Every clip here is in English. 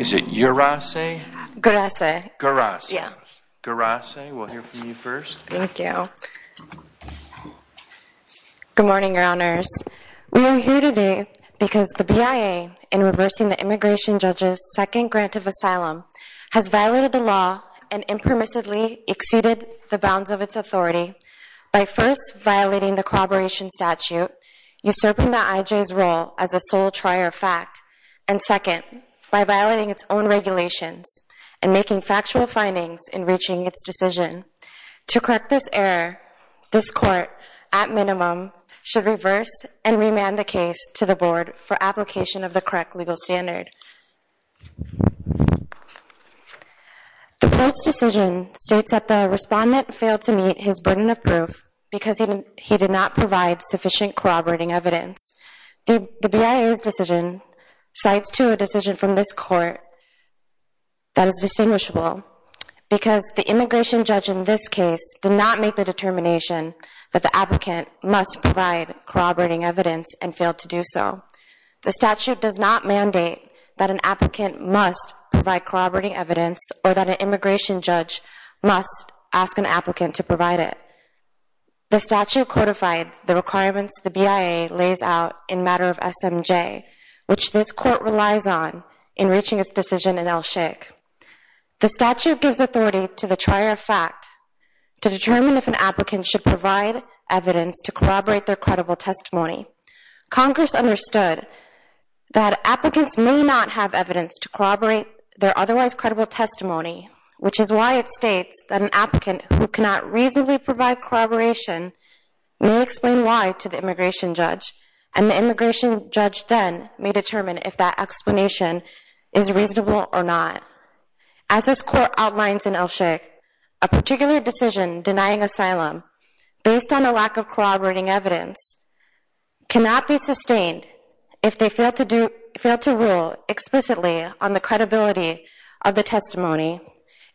Good morning, Your Honors. We are here today because the BIA, in reversing the immigration judge's second grant of asylum, has violated the law and impermissibly exceeded the bounds of its authority by first violating the corroboration statute, usurping the IJ's role as a sole trier of fact, and second, by violating its own regulations and making factual findings in reaching its decision. To correct this error, this Court, at minimum, should reverse and remand the case to the Board for application of the correct legal standard. The Court's decision states that the respondent failed to meet his burden of proof because he did not provide sufficient corroborating evidence. The BIA's decision cites to a decision from this Court that is distinguishable because the immigration judge in this case did not make the determination that the applicant must provide corroborating evidence and failed to do so. The statute does not mandate that an applicant must provide corroborating evidence or that an immigration judge must ask an applicant to provide it. The statute codified the requirements the BIA lays out in matter of SMJ, which this Court relies on in reaching its decision in El Sheikh. The statute gives authority to the trier of fact to determine if an applicant should provide evidence to corroborate their credible testimony. Congress understood that applicants may not have evidence to corroborate their otherwise credible testimony, which is why it states that an applicant who cannot reasonably provide corroboration may explain why to the immigration judge, and the immigration judge then may determine if that explanation is reasonable or not. As this Court outlines in El Sheikh, a particular decision denying asylum based on a lack of corroborating evidence cannot be sustained if they fail to rule explicitly on the credibility of the testimony,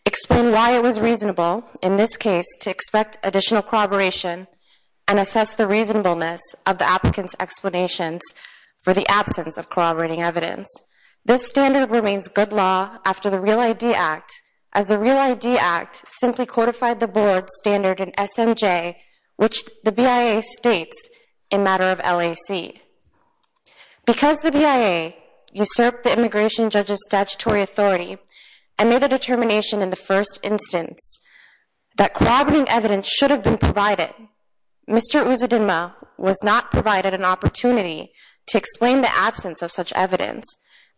explain why it was reasonable in this case to expect additional corroboration, and assess the reasonableness of the applicant's explanations for the absence of corroborating evidence. This standard remains good law after the REAL ID Act, as the REAL SMJ, which the BIA states in matter of LAC. Because the BIA usurped the immigration judge's statutory authority and made the determination in the first instance that corroborating evidence should have been provided, Mr. Uzidinma was not provided an opportunity to explain the absence of such evidence,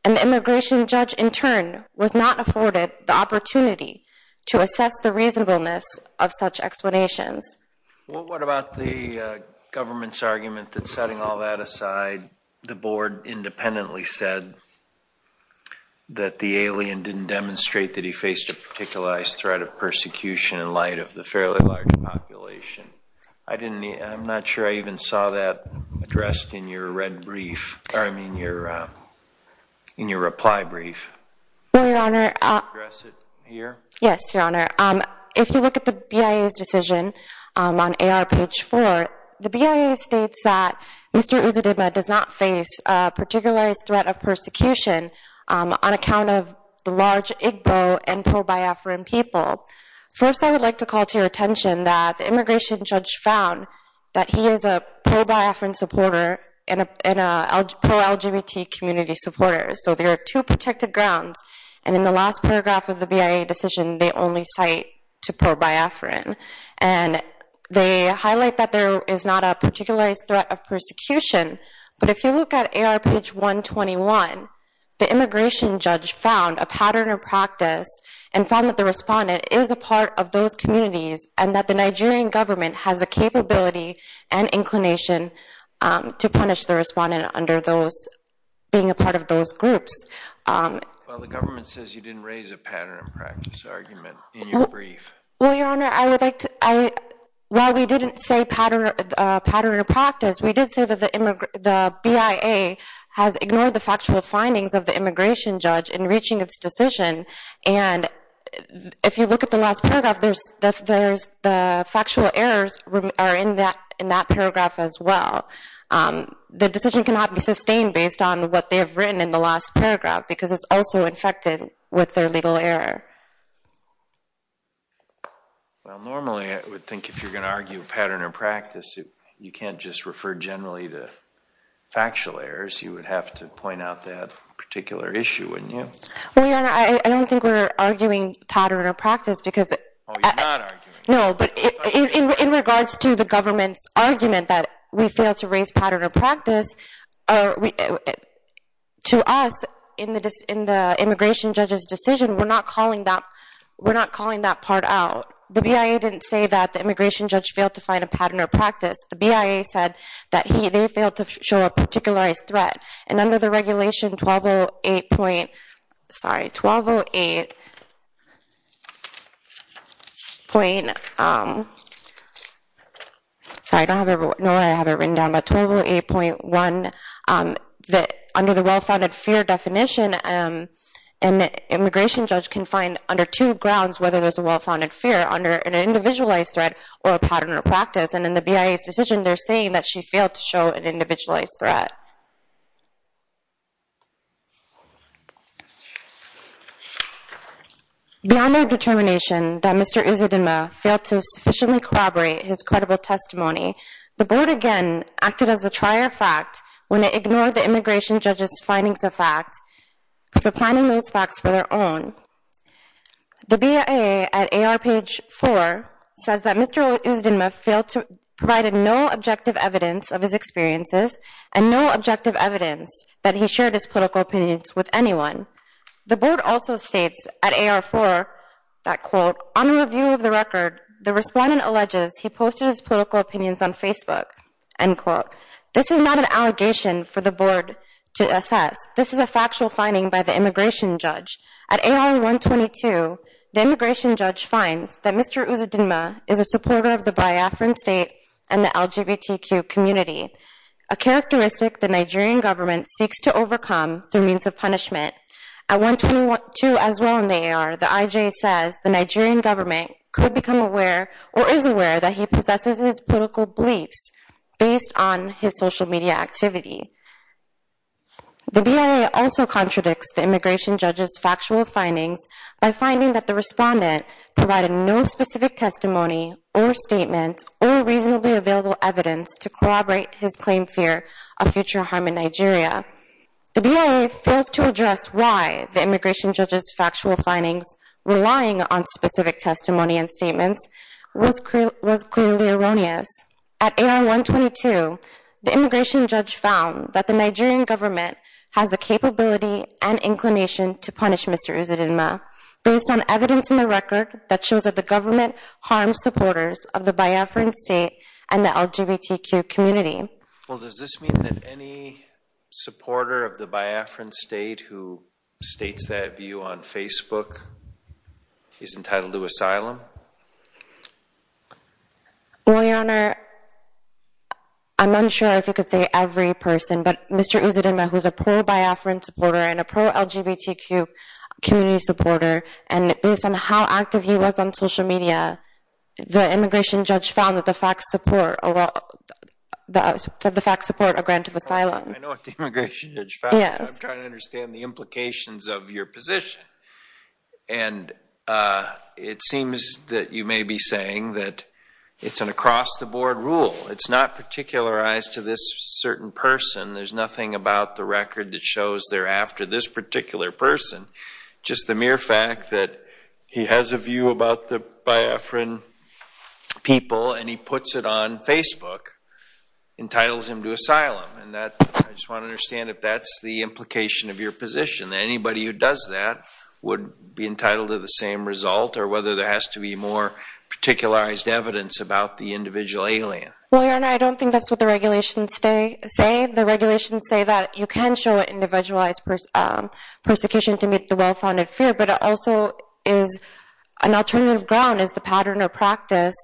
and the immigration judge in turn was not afforded the opportunity to assess the reasonableness of such explanations. What about the government's argument that setting all that aside, the board independently said that the alien didn't demonstrate that he faced a particular threat of persecution in light of the fairly large population? I didn't, I'm not sure I even saw that addressed in your red brief, I mean your reply brief. Well, your honor, if you look at the BIA's decision on AR page 4, the BIA states that Mr. Uzidinma does not face a particular threat of persecution on account of the large Igbo and pro-biafran people. First, I would like to call to your attention that the immigration judge found that he is a pro-biafran supporter and a pro-LGBT community supporter, so there are two protected grounds, and in the last paragraph of the BIA decision, they only cite to pro-biafran, and they highlight that there is not a particular threat of persecution, but if you look at AR page 121, the immigration judge found a pattern of practice and found that the respondent is a part of those communities and that the Nigerian government has a capability and inclination to punish the respondent under those, being a part of those groups. Well, the government says you didn't raise a pattern of practice argument in your brief. Well, your honor, while we didn't say pattern of practice, we did say that the BIA has ignored the factual findings of the immigration judge in reaching its decision, and if you look at the last paragraph, the factual errors are in that paragraph as well. The decision cannot be sustained based on what they have written in the last paragraph, because it's also infected with their legal error. Well, normally, I would think if you're going to argue pattern of practice, you can't just refer generally to factual errors. You would have to point out that particular issue, wouldn't you? Well, your honor, I don't think we're arguing pattern of practice because... Oh, you're not arguing. No, but in regards to the government's argument that we failed to raise pattern of practice, to us, in the immigration judge's decision, we're not calling that part out. The BIA didn't say that the immigration judge failed to find a pattern of practice. The BIA said that they failed to show a particularized threat, and under the regulation 1208.1, under the well-founded fear definition, an immigration judge can find under two grounds whether there's a well-founded fear, under an individualized threat or a pattern of practice, and in the BIA's decision, they're saying that she failed to show an individualized threat. Beyond their determination that Mr. Isidema failed to sufficiently corroborate his credible testimony, the board again acted as the trier of fact when it ignored the immigration judge's findings of fact, so finding those facts for their own. The BIA at AR page 4 says that Mr. Isidema failed to provide no objective evidence of his experiences and no objective evidence that he shared his political opinions with anyone. The board also states at AR 4 that quote, on review of the record, the respondent alleges he posted his political opinions on Facebook, end quote. This is not an allegation for the board to assess. This is a factual finding by the immigration judge. At AR 122, the immigration judge finds that Mr. Isidema is a supporter of the Biafran state and the LGBTQ community, a characteristic the Nigerian government seeks to overcome through means of punishment. At 122 as well in the AR, the IJ says the Nigerian government could become aware or is aware that he possesses his political beliefs based on his social media activity. The BIA also contradicts the immigration judge's testimony or statement or reasonably available evidence to corroborate his claim fear of future harm in Nigeria. The BIA fails to address why the immigration judge's factual findings relying on specific testimony and statements was clearly erroneous. At AR 122, the immigration judge found that the Nigerian government has the capability and inclination to punish Mr. Isidema for his actions. Well, does this mean that any supporter of the Biafran state who states that view on Facebook is entitled to asylum? Well, Your Honor, I'm unsure if you could say every person, but Mr. Isidema, who's a pro-Biafran supporter and a pro-LGBTQ community supporter, and based on how active he was on social media, the immigration judge found that the facts support a grant of asylum. I know what the immigration judge found, but I'm trying to understand the implications of your position. And it seems that you may be saying that it's an across-the-board rule. It's not particularized to this certain person. There's nothing about the record that shows they're after this particular person. Just the mere fact that he has a view about the Biafran people and he puts it on Facebook entitles him to asylum. I just want to understand if that's the implication of your position, that anybody who does that would be entitled to the same result or whether there has to be more particularized evidence about the individual alien. Well, Your Honor, I don't think that's what the regulations say. The regulations say that you can show individualized persecution to meet the well-founded fear, but it also is an alternative ground as the pattern or practice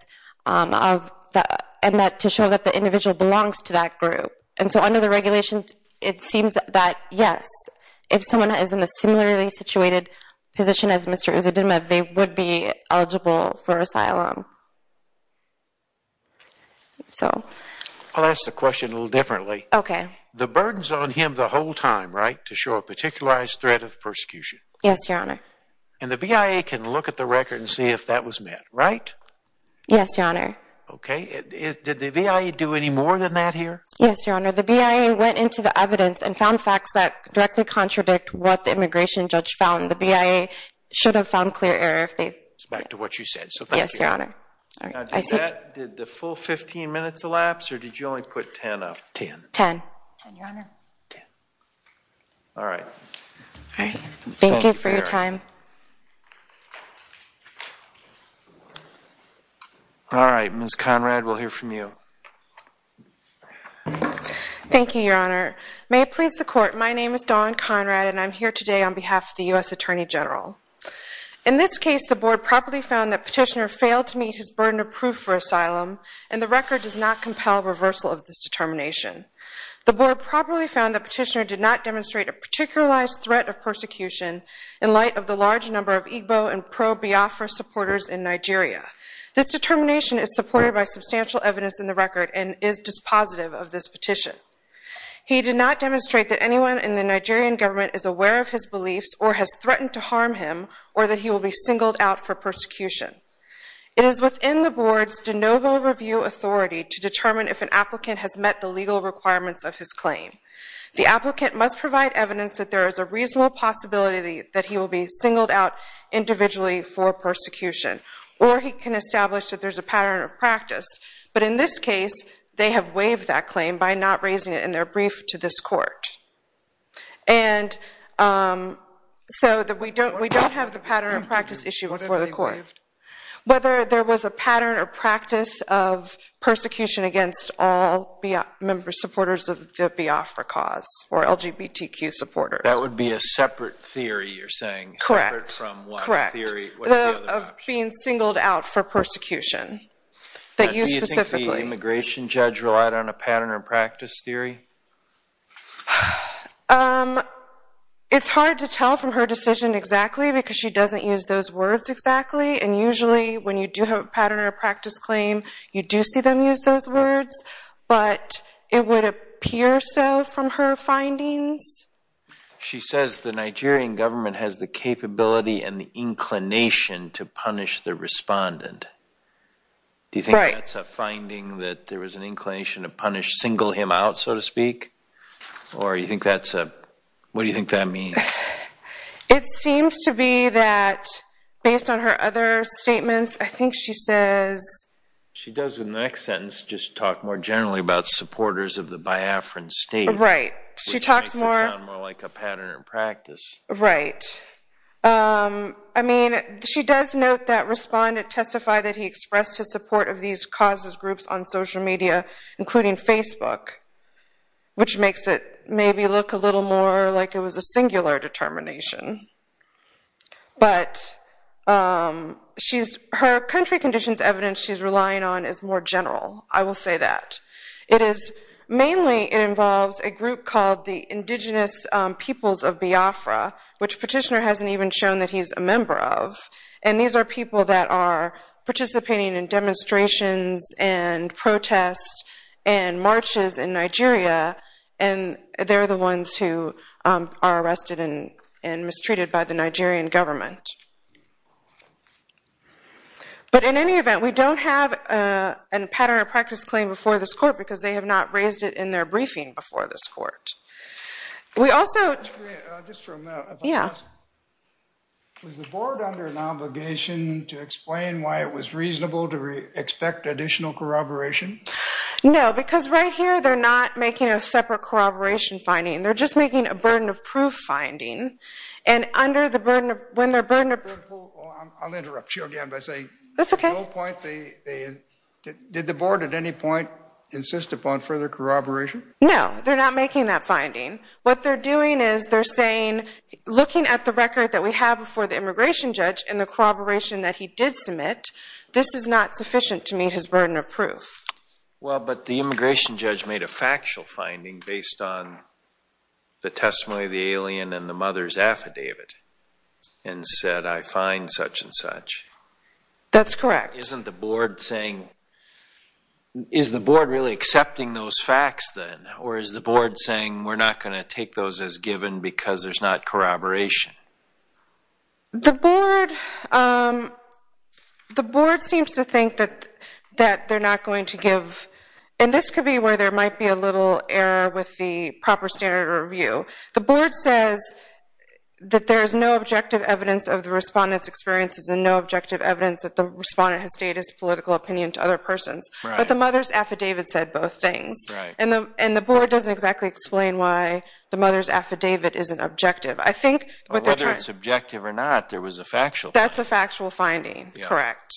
to show that the individual belongs to that group. And so under the regulations, it seems that yes, if someone is in a similarly situated position as Mr. Uzidema, they would be eligible for asylum. I'll ask the question a little differently. The burden's on him the whole time, right, to show a particularized threat of persecution? Yes, Your Honor. And the BIA can look at the record and see if that was met, right? Yes, Your Honor. Okay. Did the BIA do any more than that here? Yes, Your Honor. The BIA went into the evidence and found facts that directly contradict what the immigration judge found. The BIA should have found clear error if they've... It's back to what you said, so thank you. Yes, Your Honor. Did the full 15 minutes elapse or did you only put 10 up? Ten. Ten. Ten, Your Honor. Ten. All right. All right. Thank you for your time. All right. Ms. Conrad, we'll hear from you. Thank you, Your Honor. May it please the Court, my name is Dawn Conrad and I'm here today on behalf of the U.S. Attorney General. In this case, the Board properly found that Petitioner failed to meet his burden of proof for asylum and the record does not compel reversal of this determination. The Board properly found that Petitioner did not demonstrate a particularized threat of persecution in light of the large number of Igbo and pro-Biafra supporters in Nigeria. This determination is supported by substantial evidence in the record and is dispositive of this petition. He did not demonstrate that anyone in the Nigerian government is aware of his beliefs or has threatened to harm him or that he will be singled out for persecution. It is within the Board's de novo review authority to determine if an applicant has met the legal requirements of his claim. The applicant must provide evidence that there is a reasonable possibility that he will be singled out individually for persecution or he can establish that there's a pattern of practice. But in this case, they have waived that claim by not raising it in their brief to this Court. And so we don't have the pattern of practice issue before the Court. Whether there was a pattern or practice of persecution against all members, supporters of the Biafra cause or LGBTQ supporters. That would be a separate theory you're saying. Correct. Separate from one theory. Correct. Of being singled out for persecution. That you specifically. Do you think the immigration judge relied on a pattern or practice theory? It's hard to tell from her decision exactly because she doesn't use those words exactly and usually when you do have a pattern or practice claim, you do see them use those words. But it would appear so from her findings. She says the Nigerian government has the capability and the inclination to punish the respondent. Do you think that's a finding that there was an inclination to punish, single him out so to speak? Or you think that's a, what do you think that means? It seems to be that, based on her other statements, I think she says. She does in the next sentence just talk more generally about supporters of the Biafran state. She talks more. Which makes it sound more like a pattern or practice. Right. I mean, she does note that respondent testified that he expressed his support of these causes groups on social media, including Facebook. Which makes it maybe look a little more like it was a singular determination. But she's, her country conditions evidence she's relying on is more general. I will say that. It is mainly, it involves a group called the Indigenous Peoples of Biafra, which Petitioner hasn't even shown that he's a member of. And these are people that are participating in demonstrations and protests and marches in Nigeria. And they're the ones who are arrested and mistreated by the Nigerian government. But in any event, we don't have a pattern or practice claim before this court because they have not raised it in their briefing before this court. We also. Just for a moment. Yeah. Was the board under an obligation to explain why it was reasonable to expect additional corroboration? No. Because right here they're not making a separate corroboration finding. They're just making a burden of proof finding. And under the burden of, when their burden of proof. I'll interrupt you again by saying, at no point, did the board at any point insist upon further corroboration? No. They're not making that finding. What they're doing is they're saying, looking at the record that we have before the immigration judge and the corroboration that he did submit, this is not sufficient to meet his burden of proof. Well, but the immigration judge made a factual finding based on the testimony of the alien and the mother's affidavit and said, I find such and such. That's correct. Isn't the board saying, is the board really accepting those facts then? Or is the board saying, we're not going to take those as given because there's not corroboration? The board seems to think that they're not going to give, and this could be where there might be a little error with the proper standard of review. The board says that there's no objective evidence of the respondent's experiences and no objective evidence that the respondent has stated his political opinion to other persons. But the mother's affidavit said both things. And the board doesn't exactly explain why the mother's affidavit isn't objective. I think what they're trying to... Or whether it's objective or not, there was a factual finding. That's a factual finding. Correct.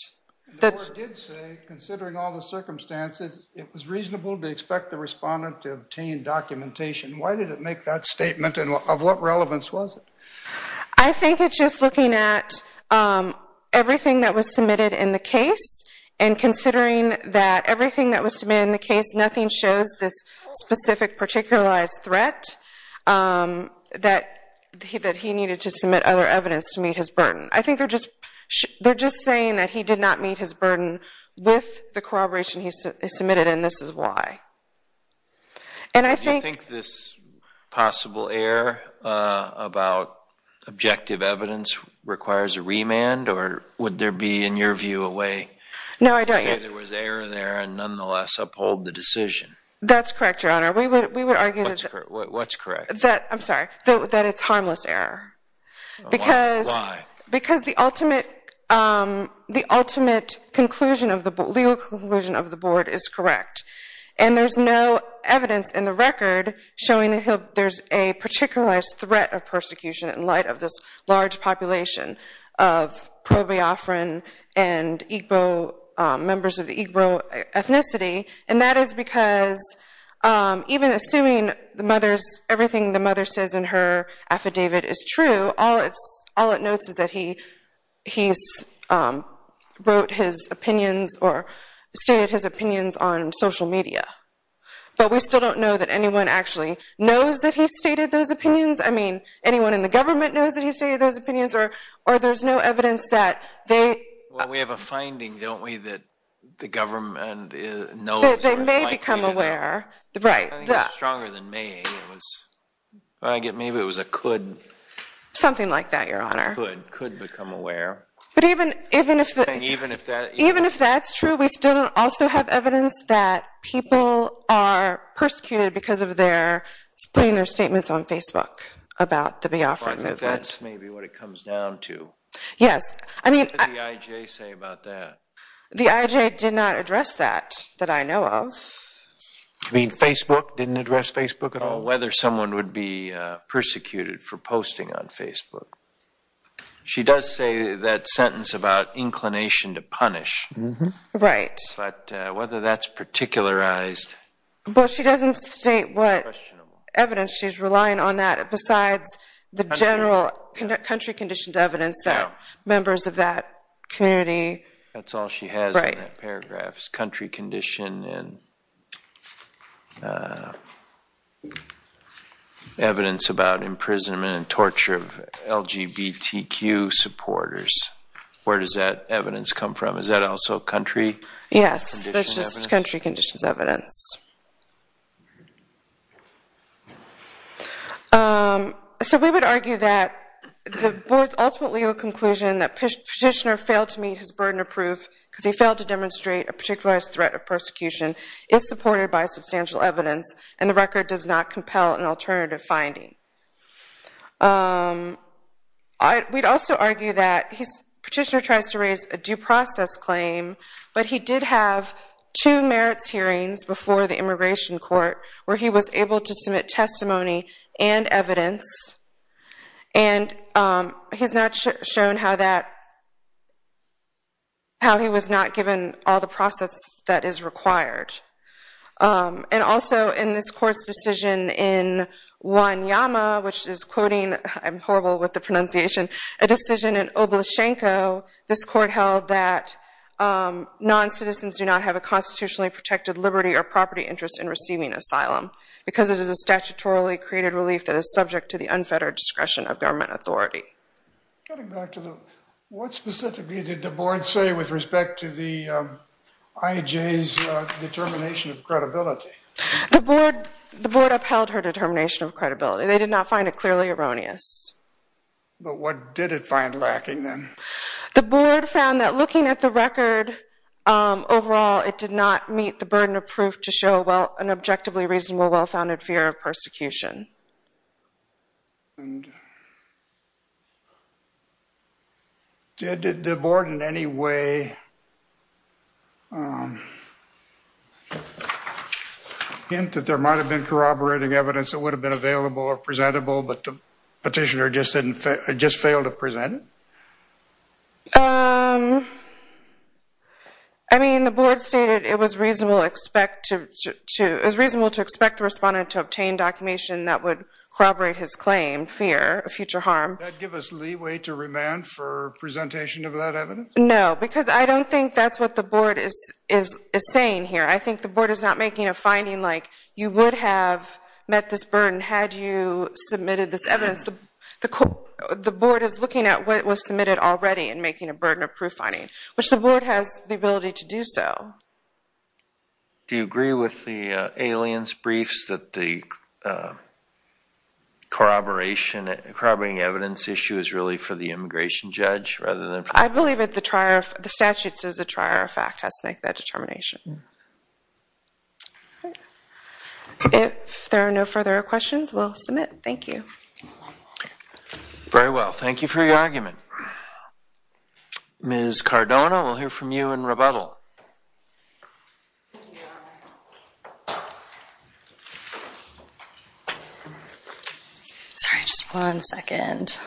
And the board did say, considering all the circumstances, it was reasonable to expect the respondent to obtain documentation. Why did it make that statement, and of what relevance was it? I think it's just looking at everything that was submitted in the case and considering that everything that was submitted in the case, nothing shows this specific, particularized fact that he needed to submit other evidence to meet his burden. I think they're just saying that he did not meet his burden with the corroboration he submitted, and this is why. And I think... Do you think this possible error about objective evidence requires a remand, or would there be, in your view, a way to say there was error there and nonetheless uphold the decision? That's correct, Your Honor. We would argue that... What's correct? I'm sorry. That it's harmless error. Why? Because the ultimate legal conclusion of the board is correct, and there's no evidence in the record showing that there's a particularized threat of persecution in light of this large population of pro-Biafran and Igbo, members of the Igbo ethnicity. And that is because, even assuming everything the mother says in her affidavit is true, all it notes is that he wrote his opinions or stated his opinions on social media. But we still don't know that anyone actually knows that he stated those opinions. I mean, anyone in the government knows that he stated those opinions, or there's no evidence that they... That they may become aware. Right. I think it's stronger than may. It was... I get maybe it was a could. Something like that, Your Honor. Could. Could become aware. But even if that's true, we still don't also have evidence that people are persecuted because of their putting their statements on Facebook about the Biafran movement. That's maybe what it comes down to. Yes. I mean... What did the IJ say about that? The IJ did not address that, that I know of. You mean Facebook didn't address Facebook at all? Whether someone would be persecuted for posting on Facebook. She does say that sentence about inclination to punish. Right. But whether that's particularized... But she doesn't state what evidence she's relying on that, besides the general country conditioned evidence that members of that community... Right. That's all she has in that paragraph. It's country condition and evidence about imprisonment and torture of LGBTQ supporters. Where does that evidence come from? Is that also country? Yes. That's just country conditions evidence. So we would argue that the board's ultimate legal conclusion that Petitioner failed to burden a proof because he failed to demonstrate a particularized threat of persecution is supported by substantial evidence and the record does not compel an alternative finding. We'd also argue that Petitioner tries to raise a due process claim, but he did have two merits hearings before the immigration court where he was able to submit testimony and evidence. And he's not shown how he was not given all the process that is required. And also in this court's decision in Wanyama, which is quoting, I'm horrible with the pronunciation, a decision in Oblashenko, this court held that non-citizens do not have a constitutionally protected liberty or property interest in receiving asylum because it is a statutorily created relief that is subject to the unfettered discretion of government authority. What specifically did the board say with respect to the IJ's determination of credibility? The board upheld her determination of credibility. They did not find it clearly erroneous. But what did it find lacking then? The board found that looking at the record overall, it did not meet the burden of proof to show an objectively reasonable, well-founded fear of persecution. And did the board in any way hint that there might have been corroborating evidence that would have been available or presentable, but the petitioner just failed to present it? I mean, the board stated it was reasonable to expect the respondent to obtain documentation that would corroborate his claim, fear of future harm. Did that give us leeway to remand for presentation of that evidence? No, because I don't think that's what the board is saying here. I think the board is not making a finding like, you would have met this burden had you submitted this evidence. Because the board is looking at what was submitted already and making a burden of proof finding, which the board has the ability to do so. Do you agree with the alien's briefs that the corroborating evidence issue is really for the immigration judge rather than for the petitioner? I believe the statute says the trier of fact has to make that determination. If there are no further questions, we'll submit. Thank you. Very well. Thank you for your argument. Ms. Cardona, we'll hear from you in rebuttal. Sorry, just one second.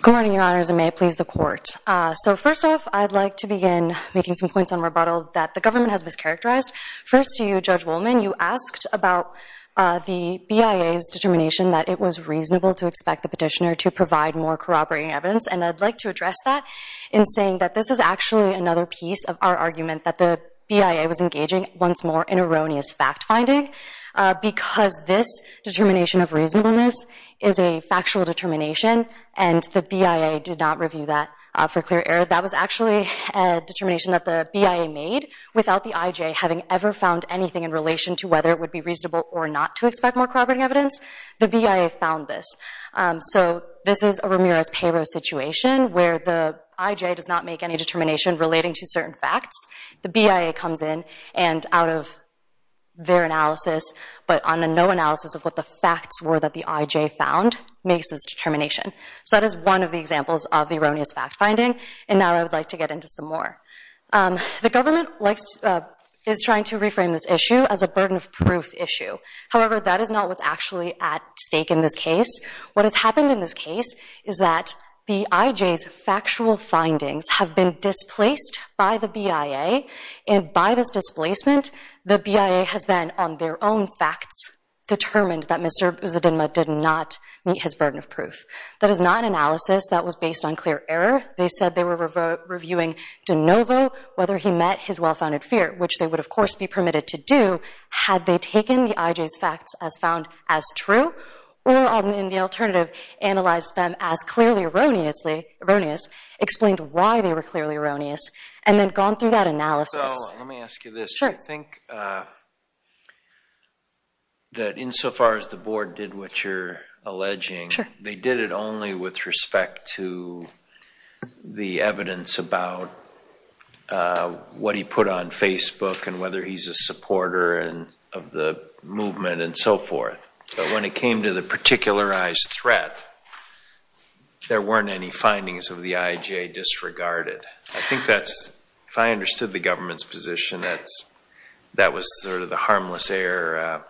Good morning, your honors, and may it please the court. First off, I'd like to begin making some points on rebuttal that the government has mischaracterized. First to you, Judge Wollman, you asked about the BIA's determination that it was reasonable to expect the petitioner to provide more corroborating evidence, and I'd like to address that in saying that this is actually another piece of our argument that the BIA was engaging once more in erroneous fact finding, because this determination of reasonableness is a for clear error. That was actually a determination that the BIA made without the IJ having ever found anything in relation to whether it would be reasonable or not to expect more corroborating evidence. The BIA found this. So this is a Ramirez-Perot situation where the IJ does not make any determination relating to certain facts. The BIA comes in, and out of their analysis, but on a no analysis of what the facts were that the IJ found, makes this determination. So that is one of the examples of the erroneous fact finding, and now I would like to get into some more. The government is trying to reframe this issue as a burden of proof issue. However, that is not what's actually at stake in this case. What has happened in this case is that the IJ's factual findings have been displaced by the BIA, and by this displacement, the BIA has then, on their own facts, determined that Mr. Buzidinma did not meet his burden of proof. That is not an analysis that was based on clear error. They said they were reviewing De Novo, whether he met his well-founded fear, which they would of course be permitted to do, had they taken the IJ's facts as found as true, or in the alternative, analyzed them as clearly erroneous, explained why they were clearly erroneous, and then gone through that analysis. So let me ask you this. Sure. Do you think that insofar as the board did what you're alleging, they did it only with respect to the evidence about what he put on Facebook and whether he's a supporter of the movement and so forth, but when it came to the particularized threat, there weren't any findings of the IJ disregarded? I think that's, if I understood the government's position, that's, that was sort of the harmless error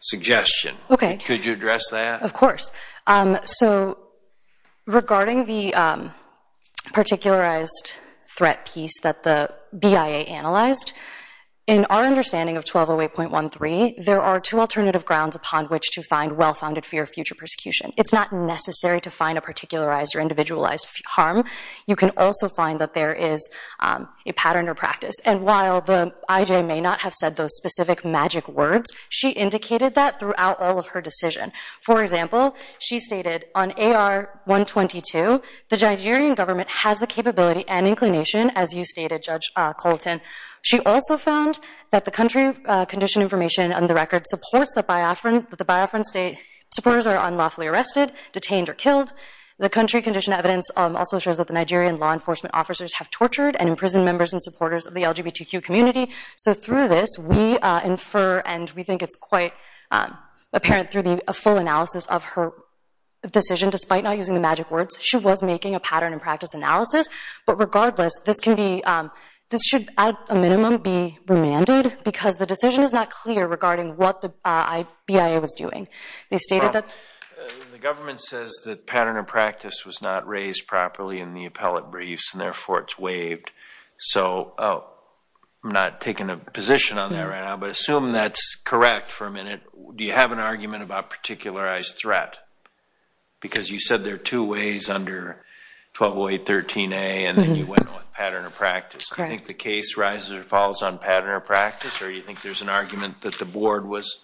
suggestion. Could you address that? Of course. So regarding the particularized threat piece that the BIA analyzed, in our understanding of 1208.13, there are two alternative grounds upon which to find well-founded fear of future persecution. It's not necessary to find a particularized or individualized harm. You can also find that there is a pattern or practice, and while the IJ may not have said those specific magic words, she indicated that throughout all of her decision. For example, she stated, on AR-122, the Nigerian government has the capability and inclination, as you stated, Judge Colton. She also found that the country condition information on the record supports that the Biafran supporters are unlawfully arrested, detained, or killed. The country condition evidence also shows that the Nigerian law enforcement officers have tortured and imprisoned members and supporters of the LGBTQ community. So through this, we infer, and we think it's quite apparent through the full analysis of her decision, despite not using the magic words, she was making a pattern and practice analysis. But regardless, this can be, this should, at a minimum, be remanded because the decision is not clear regarding what the BIA was doing. They stated that... Well, the government says that pattern and practice was not raised properly in the appellate briefs, and therefore it's waived. So, oh, I'm not taking a position on that right now, but assume that's correct for a minute. Do you have an argument about particularized threat? Because you said there are two ways under 1208.13a, and then you went with pattern or practice. Do you think the case rises or falls on pattern or practice, or do you think there's an argument that the board was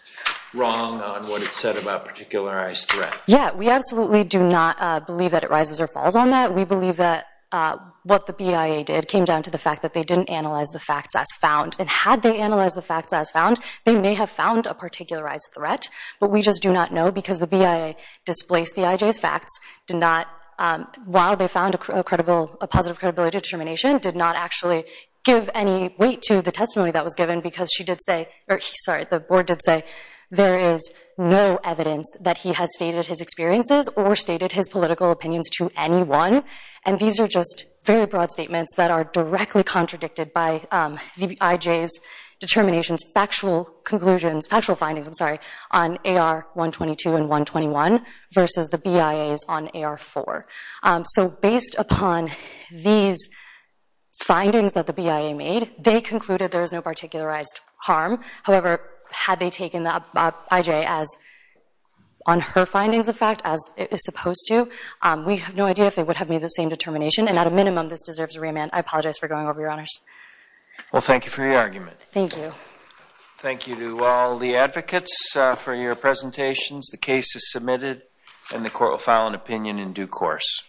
wrong on what it said about particularized threat? Yeah, we absolutely do not believe that it rises or falls on that. We believe that what the BIA did came down to the fact that they didn't analyze the facts as found. And had they analyzed the facts as found, they may have found a particularized threat, but we just do not know because the BIA displaced the IJ's facts, did not, while they found a positive credibility determination, did not actually give any weight to the testimony that was given because she did say, or sorry, the board did say there is no evidence that he has stated his experiences or stated his political opinions to anyone. And these are just very broad statements that are directly contradicted by the IJ's determinations, factual conclusions, factual findings, I'm sorry, on AR-122 and 121 versus the BIA's on AR-4. So based upon these findings that the BIA made, they concluded there is no particularized harm. However, had they taken the IJ on her findings of fact, as it is supposed to, we have no idea if they would have made the same determination, and at a minimum, this deserves a remand. I apologize for going over, Your Honors. Well thank you for your argument. Thank you. Thank you to all the advocates for your presentations. The case is submitted and the court will file an opinion in due course.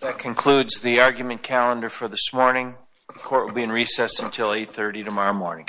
That concludes the argument calendar for this morning. The court will be in recess until 830 tomorrow morning.